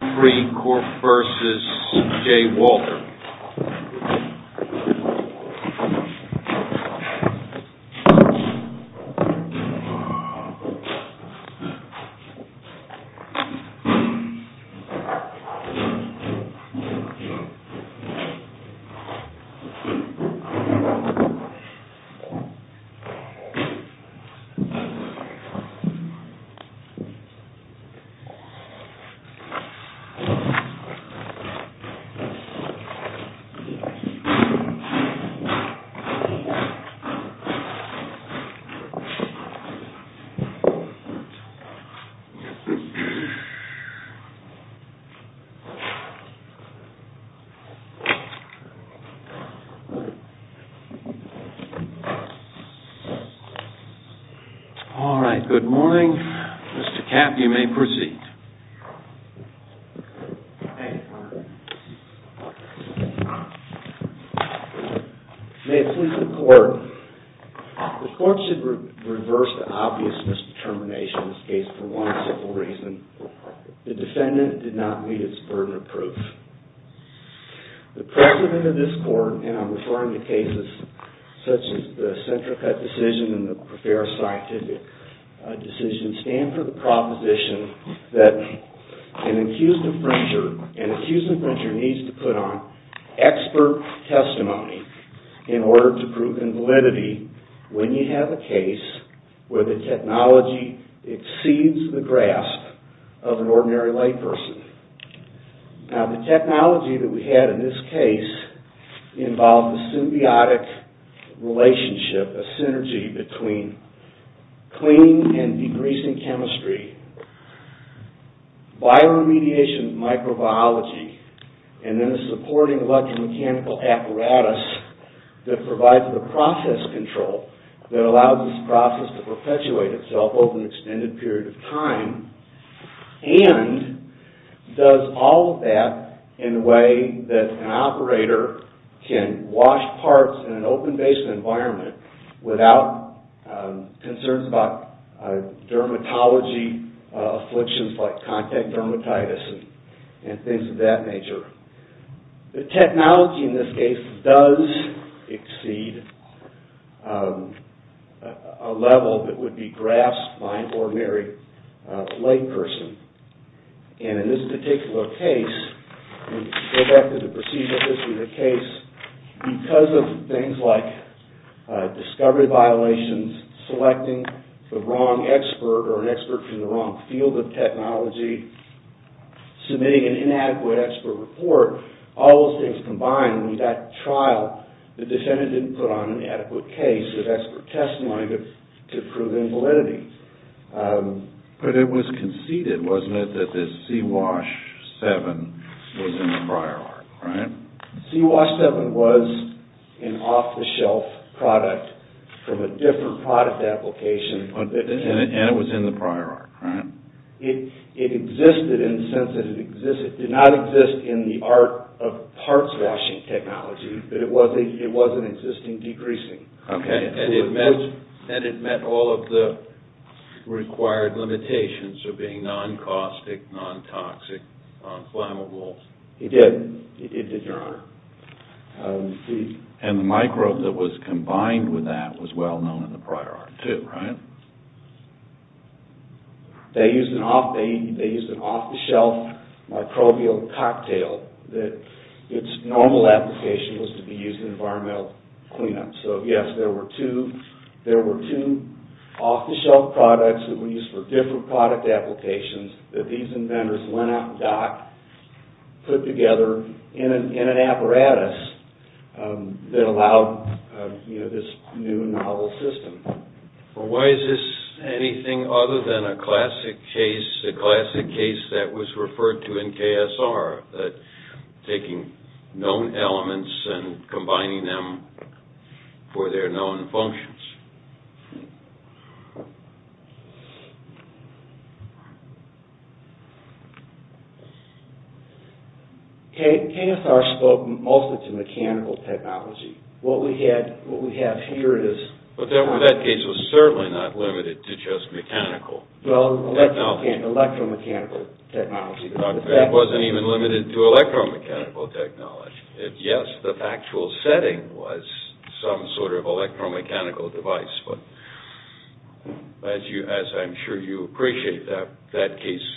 CHEMFREE CORP v. J WALTER CHEMFREE CORP v. J WALTER May it please the Court, the Court should reverse the obvious determination in this case for one simple reason. The defendant did not meet its burden of proof. The precedent of this Court, and I'm referring to cases such as the CentraCut decision and the Prefera Scientific decision, stand for the proposition that an accused infringer needs to put on expert testimony in order to prove invalidity when you have a case where the technology exceeds the grasp of an ordinary layperson. Now, the technology that we had in this case involved a symbiotic relationship, a synergy between cleaning and degreasing chemistry, bioremediation microbiology, and then a supporting electromechanical apparatus that provides the process control that allows this process to perpetuate itself over an extended period of time and does all of that in a way that an operator can wash parts in an open-based environment without concerns about dermatology afflictions like contact dermatitis and things of that nature. The technology in this case does exceed a level that would be grasped by an ordinary layperson. And in this particular case, we go back to the procedural issue of the case, because of things like discovery violations, selecting the wrong expert or an expert from the wrong field of technology, submitting an inadequate expert report, all those things combined when you got to trial, the defendant didn't put on an adequate case of expert testimony to prove invalidity. But it was conceded, wasn't it, that this C-Wash 7 was in the prior art, right? C-Wash 7 was an off-the-shelf product from a different product application. And it was in the prior art, right? It existed in the sense that it existed. It did not exist in the art of parts washing technology, but it was an existing degreasing. And it met all of the required limitations of being non-caustic, non-toxic, non-flammable. It did, Your Honor. And the microbe that was combined with that was well known in the prior art, too, right? They used an off-the-shelf microbial cocktail that its normal application was to be used in environmental cleanup. So, yes, there were two off-the-shelf products that were used for different product applications that these inventors went out and docked, put together in an apparatus that allowed this new and novel system. Well, why is this anything other than a classic case, a classic case that was referred to in KSR, that taking known elements and combining them for their known functions? KSR spoke mostly to mechanical technology. What we have here is... But that case was certainly not limited to just mechanical technology. Well, electromechanical technology. It wasn't even limited to electromechanical technology. Yes, the factual setting was some sort of electromechanical device, but as I'm sure you appreciate, that case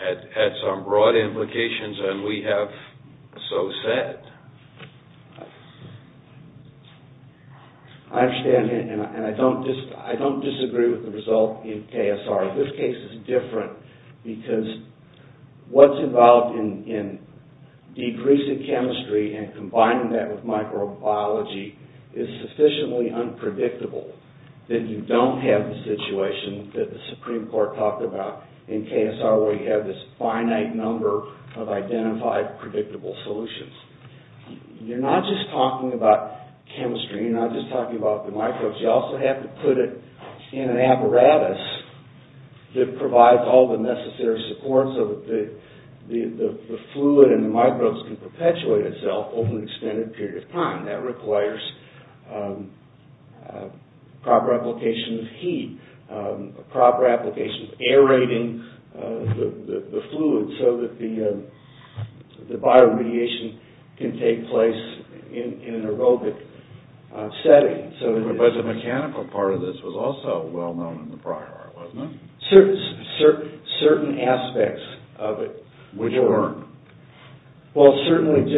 had some broad implications, and we have so said. I understand, and I don't disagree with the result in KSR. This case is different because what's involved in decreasing chemistry and combining that with microbiology is sufficiently unpredictable that you don't have the situation that the Supreme Court talked about in KSR where you have this finite number of identified, predictable solutions. You're not just talking about chemistry. You're not just talking about the microbes. You also have to put it in an apparatus that provides all the necessary support so that the fluid and the microbes can perpetuate itself over an extended period of time. That requires proper application of heat, proper application of aerating the fluid so that the bioremediation can take place in an aerobic setting. But the mechanical part of this was also well known in the prior art, wasn't it? Certain aspects of it were to learn. Well, certainly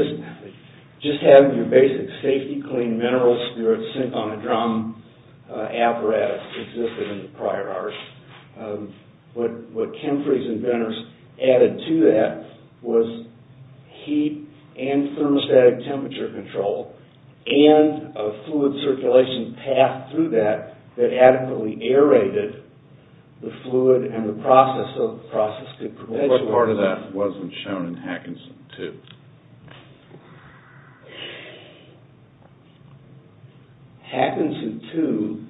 just having your basic safety clean mineral spirits sink on the drum apparatus existed in the prior art. What Kempfrey's inventors added to that was heat and thermostatic temperature control and a fluid circulation path through that that adequately aerated the fluid and the process so that the process could perpetuate. What part of that wasn't shown in Hackinson II? Hackinson II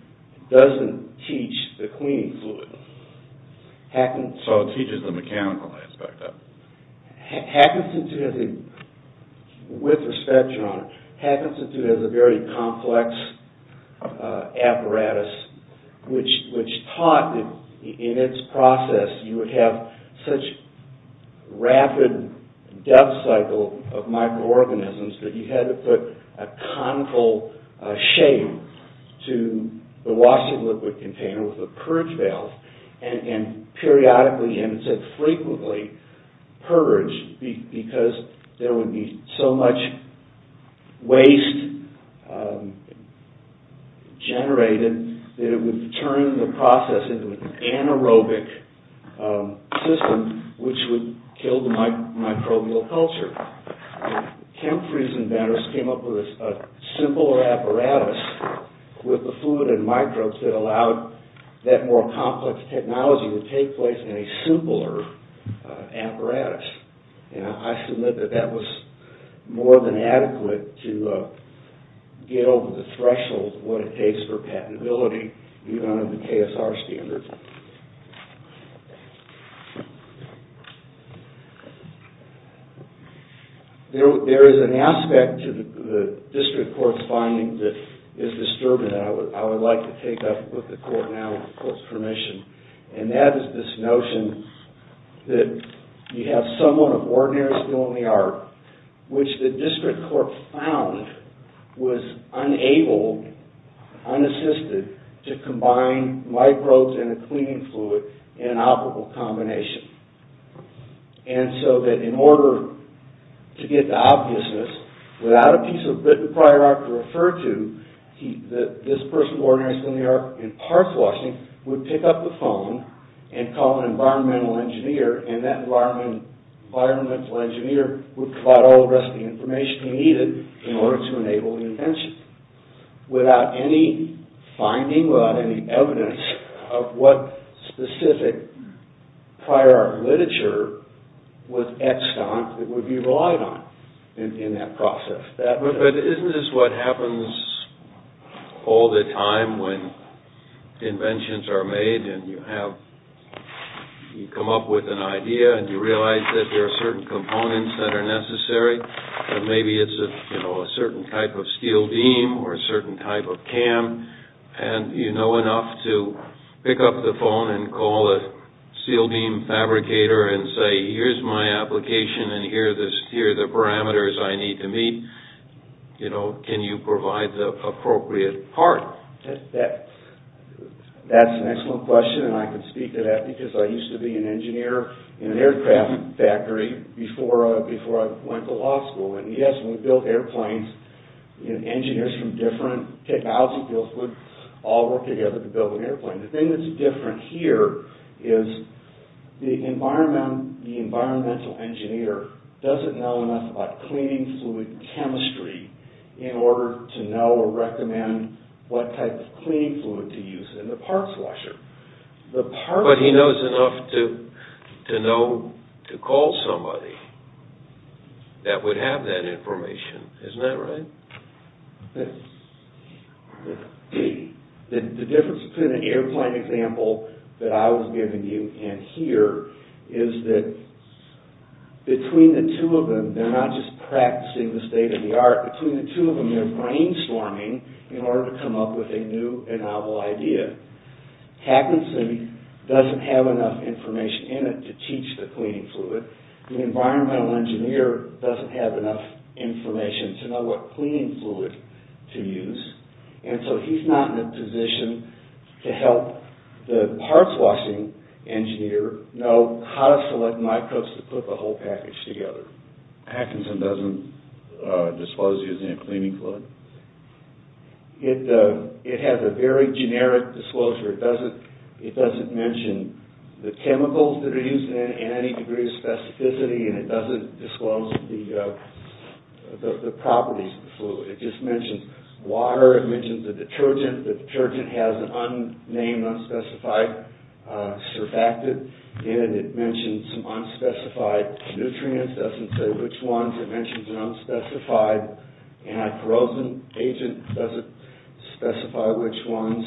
doesn't teach the cleaning fluid. So it teaches the mechanical aspect of it. Hackinson II has a very complex apparatus which taught that in its process you would have such rapid death cycle of microorganisms that you had to put a conical shape to the purge because there would be so much waste generated that it would turn the process into an anaerobic system which would kill the microbial culture. Kempfrey's inventors came up with a simpler apparatus with the fluid and microbes that allowed that more complex technology to take place in a simpler apparatus. I submit that that was more than adequate to get over the threshold of what it takes for patentability even under the KSR standards. There is an aspect to the district court's findings that is disturbing that I would like to take up with the court now with the court's permission. And that is this notion that you have someone of ordinary skill in the art which the district court found was unable, unassisted to combine microbes in a cleaning fluid in an operable combination. And so that in order to get the obviousness without a piece of written prior art to refer to this person of ordinary skill in the art in park washing would pick up the phone and call an environmental engineer and that environmental engineer would provide all the rest of the information he needed in order to enable the invention without any finding, without any evidence of what specific prior art literature was x'd on that would be relied on in that process. But isn't this what happens all the time when inventions are made and you have, you come up with an idea and you realize that there are certain components that are necessary and maybe it's a certain type of steel beam or a certain type of cam and you know enough to pick up the phone and call a steel beam fabricator and say here's my application and here are the parameters I need to meet. You know, can you provide the appropriate part? That's an excellent question and I can speak to that because I used to be an engineer in an aircraft factory before I went to law school and yes we built airplanes and engineers from different technology fields would all work together to build an airplane. The thing that's different here is the environmental engineer doesn't know enough about cleaning fluid chemistry in order to know or recommend what type of cleaning fluid to use in the parts washer. But he knows enough to know to call somebody that would have that information, isn't that right? The difference between an airplane example that I was giving you and here is that between the two of them they're not just practicing the state of the art. Between the two of them they're brainstorming in order to come up with a new and novel idea. Hackinson doesn't have enough information in it to teach the cleaning fluid. The environmental engineer doesn't have enough information to know what cleaning fluid to use and so he's not in a position to help the parts washing engineer know how to select microbes to put the whole package together. Hackinson doesn't disclose using a cleaning fluid. It has a very generic disclosure. It doesn't mention the chemicals that are used and any degree of specificity and it doesn't disclose the properties of the fluid. It just mentions water. It mentions a detergent. The detergent has an unnamed, unspecified surfactant in it. It mentions some unspecified nutrients. It doesn't say which ones. It mentions an unspecified anti-corrosion agent. It doesn't specify which ones.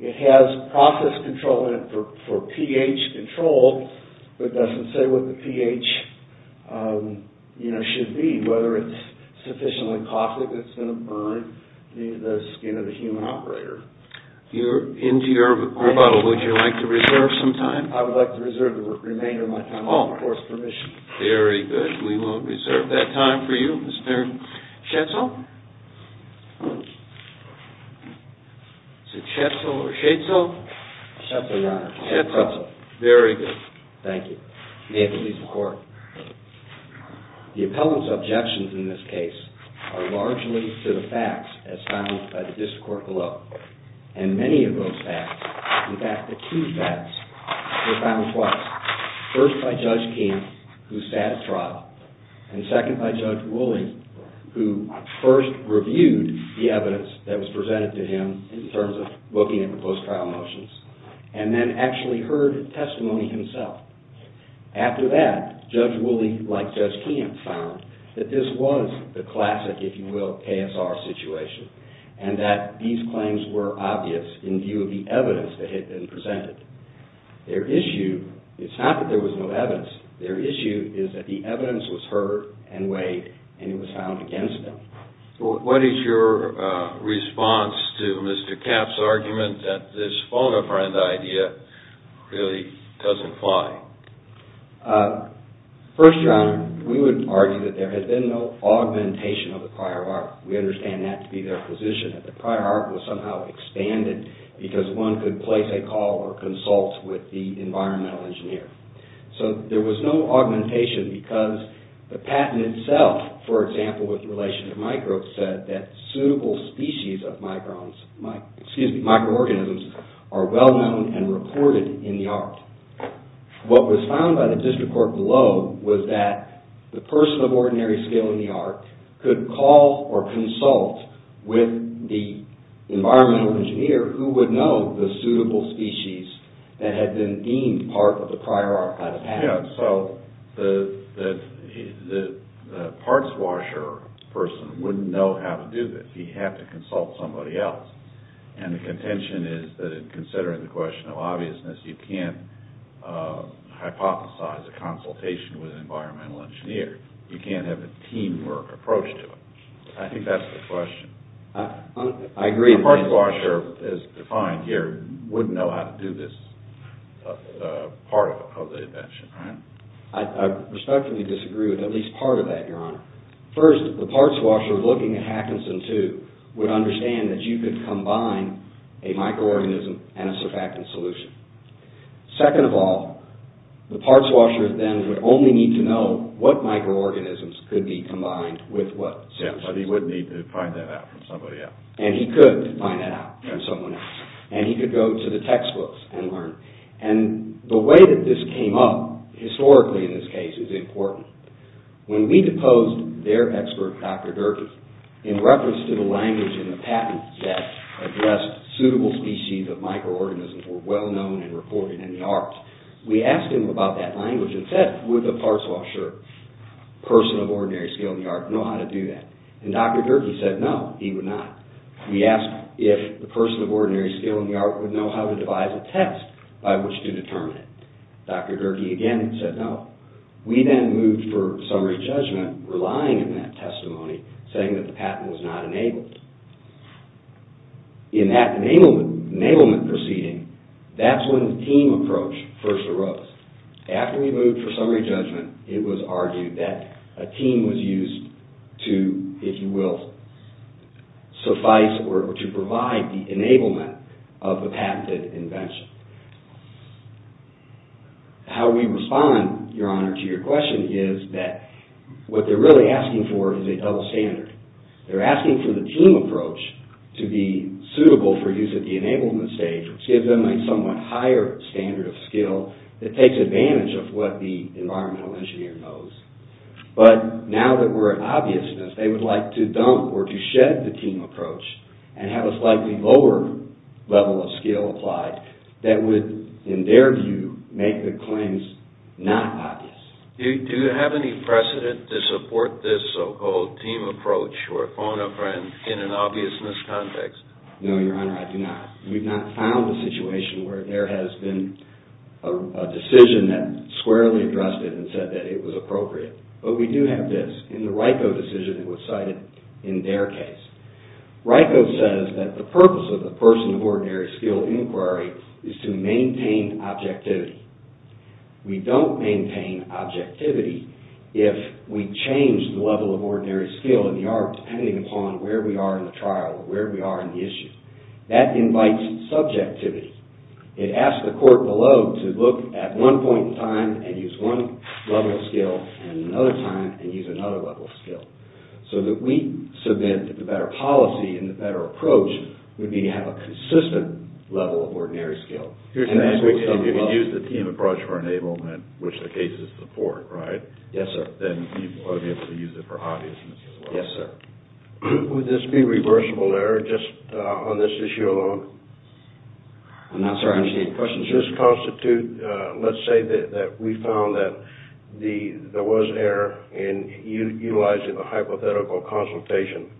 It has process control in it for pH control but it doesn't say what the pH should be, whether it's sufficiently caustic that it's going to burn the skin of the human operator. You're into your rebuttal. Would you like to reserve some time? I would like to reserve the remainder of my time with the course permission. Very good. We will reserve that time for you. Schatzel? Is it Schatzel or Schatzel? Schatzel, Your Honor. Schatzel. Very good. Thank you. May it please the Court. The appellant's objections in this case are largely to the facts as found by the District Court below. And many of those facts, in fact the two facts, were found twice. First by Judge Kemp, who sat at trial, and second by Judge Woolley, who first reviewed the evidence that was presented to him in terms of looking at proposed trial motions and then actually heard testimony himself. After that, Judge Woolley, like Judge Kemp, found that this was the classic, if you will, KSR situation and that these claims were obvious in view of the evidence that had been presented. Their issue is not that there was no evidence. Their issue is that the evidence was heard and weighed and it was found against them. What is your response to Mr. Kemp's argument that this phone-a-friend idea really doesn't fly? First, Your Honor, we would argue that there has been no augmentation of the prior art. We understand that to be their position, that the prior art was somehow expanded because one could place a call or consult with the environmental engineer. So there was no augmentation because the patent itself, for example, with relation to microbes, said that suitable species of microorganisms are well-known and reported in the art. What was found by the District Court below was that the person of ordinary skill in the art could call or consult with the environmental engineer who would know the suitable species that had been deemed part of the prior art by the patent. So the parts washer person wouldn't know how to do this. He'd have to consult somebody else. And the contention is that in considering the question of obviousness, you can't hypothesize a consultation with an environmental engineer. You can't have a teamwork approach to it. I think that's the question. I agree. The parts washer, as defined here, wouldn't know how to do this part of the invention, right? I respectfully disagree with at least part of that, Your Honor. First, the parts washer looking at Hackinson, too, would understand that you could combine a microorganism and a surfactant solution. Second of all, the parts washer then would only need to know what microorganisms could be combined with what substance. Yeah, but he would need to find that out from somebody else. And he could find that out from someone else. And he could go to the textbooks and learn. And the way that this came up, historically in this case, is important. When we deposed their expert, Dr. Gerges, in reference to the language in the patent that addressed suitable species of microorganisms were well-known and reported in the arts, we asked him about that language and said, would the parts washer, person of ordinary skill in the arts, know how to do that? And Dr. Gerges said no, he would not. We asked if the person of ordinary skill in the arts would know how to devise a test by which to determine it. Dr. Gerges again said no. We then moved for summary judgment, relying on that testimony, saying that the patent was not enabled. In that enablement proceeding, that's when the team approach first arose. After we moved for summary judgment, it was argued that a team was used to, if you will, suffice or to provide the enablement of the patented invention. How we respond, Your Honor, to your question is that what they're really asking for is a double standard. They're asking for the team approach to be suitable for use at the enablement stage which gives them a somewhat higher standard of skill that takes advantage of what the environmental engineer knows. But now that we're at obviousness, they would like to dump or to shed the team approach and have a slightly lower level of skill applied that would, in their view, make the claims not obvious. Do you have any precedent to support this so-called team approach or phonogram in an obviousness context? No, Your Honor, I do not. We've not found a situation where there has been a decision that squarely addressed it and said that it was appropriate. But we do have this. In the RICO decision, it was cited in their case. RICO says that the purpose of the person of ordinary skill inquiry is to maintain objectivity. We don't maintain objectivity if we change the level of ordinary skill in the art depending upon where we are in the trial, where we are in the issue. That invites subjectivity. It asks the court below to look at one point in time and use one level of skill and another time and use another level of skill. So that we submit that the better policy and the better approach would be to have a consistent level of ordinary skill. If you can use the team approach for enablement, which the case is for, right? Yes, sir. Then you ought to be able to use it for obviousness as well. Yes, sir. Would this be reversible error just on this issue alone? I'm not sure I understand your question. Does this constitute, let's say that we found that there was error in utilizing the hypothetical consultation,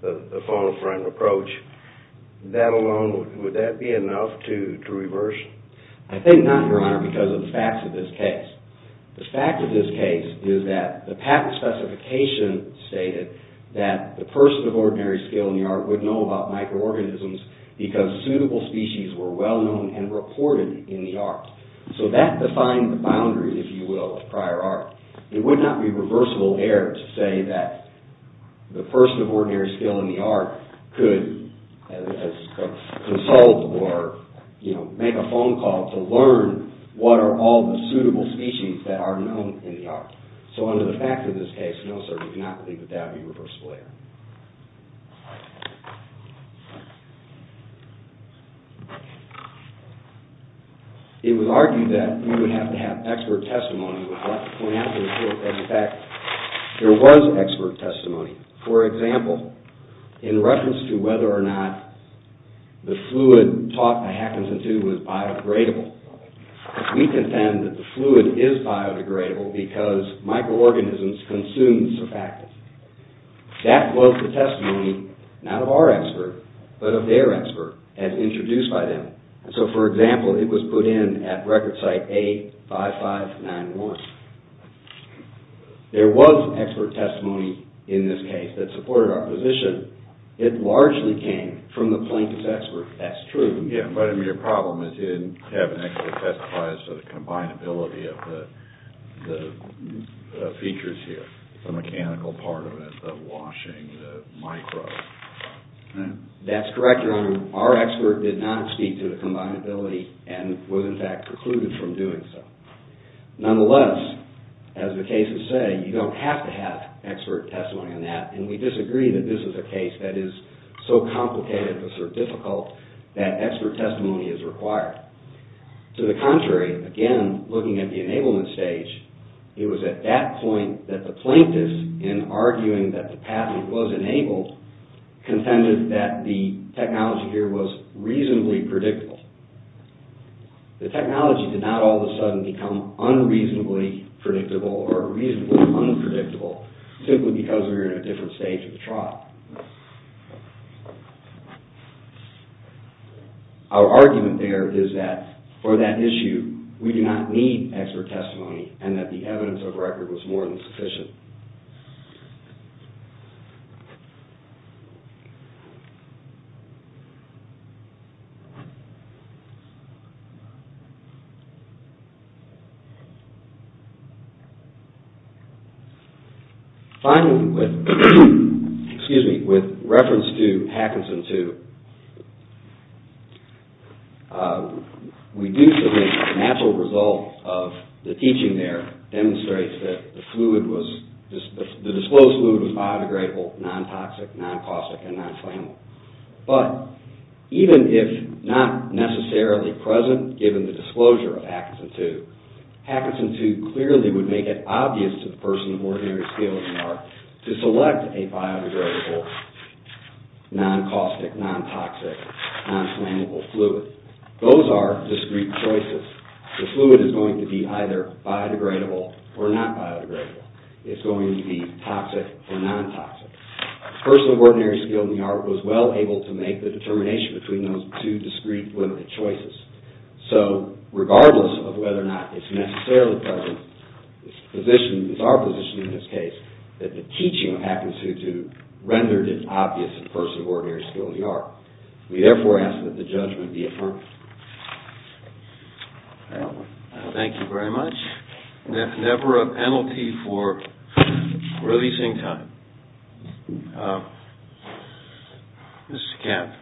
the phonogram approach, that alone, would that be enough to reverse? I think not, Your Honor, because of the facts of this case. The fact of this case is that the patent specification stated that the person of ordinary skill in the art would know about microorganisms because suitable species were well known and reported in the art. So that defined the boundary, if you will, of prior art. It would not be reversible error to say that the person of ordinary skill in the art could consult or make a phone call to learn what are all the suitable species that are known in the art. So under the fact of this case, no, sir, we cannot believe that that would be reversible error. It was argued that we would have to have expert testimony with what went after the fact. There was expert testimony. For example, in reference to whether or not the fluid taught by Hackinson, too, was biodegradable, we contend that the fluid is biodegradable because microorganisms consume surfactants. That was the testimony, not of our expert, but of their expert as introduced by them. So, for example, it was put in at record site A5591. There was expert testimony in this case that supported our position. It largely came from the plaintiff's expert. That's true. Yeah, but I mean, your problem is you didn't have an expert testify as to the combinability of the features here, the mechanical part of it, the washing, the microbes. That's correct, Your Honor. Our expert did not speak to the combinability and was, in fact, precluded from doing so. Nonetheless, as the cases say, you don't have to have expert testimony on that, and we disagree that this is a case that is so complicated or so difficult that expert testimony is required. To the contrary, again, looking at the enablement stage, it was at that point that the plaintiff, in arguing that the patent was enabled, contended that the technology here was reasonably predictable. The technology did not all of a sudden become unreasonably predictable or reasonably unpredictable simply because we were in a different stage of the trial. Our argument there is that for that issue, we do not need expert testimony and that the evidence of record was more than sufficient. Finally, with reference to Hackinson 2, we do think the natural result of the teaching there demonstrates that the disclosed fluid was biodegradable, non-toxic, non-caustic, and non-flammable. given the disclosure of Hackinson 2. Hackinson 2 clearly would make it obvious to the person of ordinary skill in the art to select a biodegradable, non-caustic, non-toxic, non-flammable fluid. Those are discrete choices. The fluid is going to be either biodegradable or not biodegradable. It's going to be toxic or non-toxic. The person of ordinary skill in the art was well able to make the determination between those two discrete, limited choices. So regardless of whether or not it's necessarily present, it's our position in this case that the teaching of Hackinson 2 rendered it obvious to the person of ordinary skill in the art. We therefore ask that the judgment be affirmed. Thank you very much. Never a penalty for releasing time. Mr. Kemp.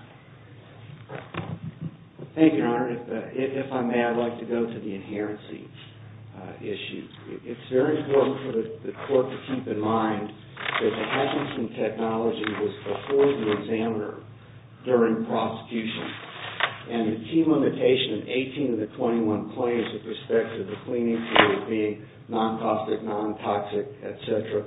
Thank you, Your Honor. If I may, I'd like to go to the inherency issues. It's very important for the court to keep in mind that the Hackinson technology was before the examiner during prosecution, and the key limitation of 18 of the 21 claims with respect to the cleaning fluid being non-caustic, non-toxic, et cetera,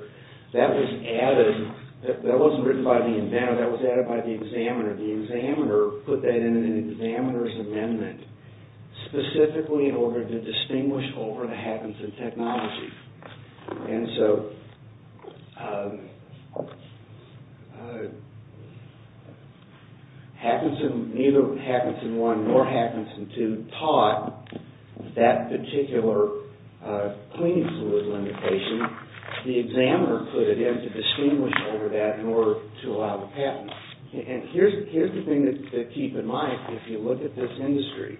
that was added, that wasn't written by the inventor, that was added by the examiner. The examiner put that in an examiner's amendment specifically in order to distinguish over the Hackinson technology. And so, Hackinson, neither Hackinson 1 nor Hackinson 2 taught that particular cleaning fluid limitation. The examiner put it in to distinguish over that in order to allow the patent. And here's the thing to keep in mind, if you look at this industry.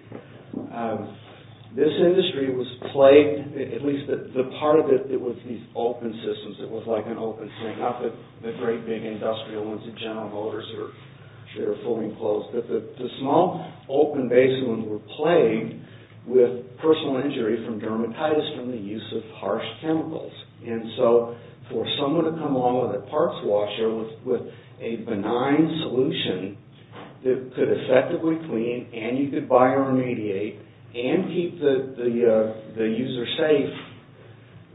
This industry was plagued, at least the part of it that was these open systems, it was like an open sink, not the great big industrial ones, the general motors that are fully enclosed, but the small open basin ones were plagued with personal injury from dermatitis from the use of harsh chemicals. And so, for someone to come along with a parts washer with a benign solution that could effectively clean and you could bioremediate and keep the user safe,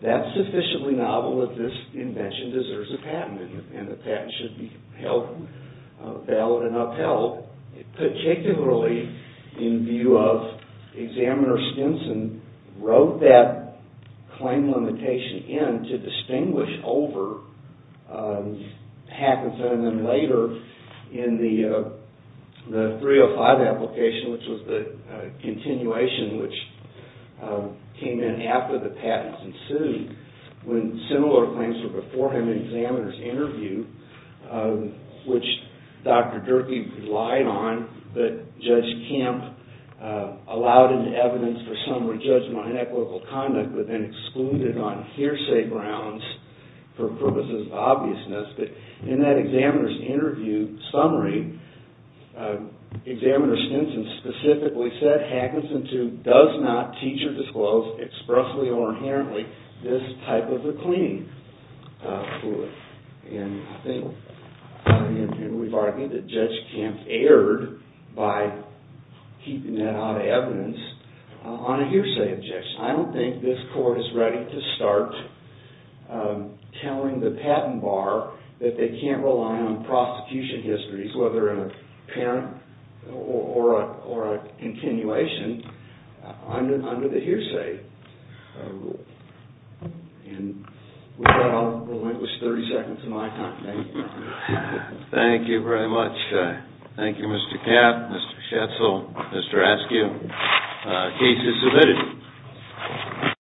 that's sufficiently novel that this invention deserves a patent and the patent should be held valid and upheld, particularly in view of examiner Stinson wrote that claim limitation in to distinguish over Hackinson and then later in the 305 application, which was the continuation, which came in after the patents ensued, when similar claims were before him in examiner's interview, which Dr. Durkee relied on, but Judge Kemp allowed in evidence for summary judgment on inequitable conduct, but then excluded on hearsay grounds for purposes of obviousness, but in that examiner's interview summary, examiner Stinson specifically said, Hackinson, too, does not teach or disclose expressly or inherently this type of a cleaning fluid. And we've argued that Judge Kemp erred by keeping that out of evidence on a hearsay objection. I don't think this court is ready to start telling the patent bar that they can't rely on prosecution histories, whether in a parent or a continuation, under the hearsay rule. And with that, I'll relinquish 30 seconds of my time. Thank you very much. Thank you, Mr. Kemp, Mr. Schetzel, Mr. Askew. Case is submitted.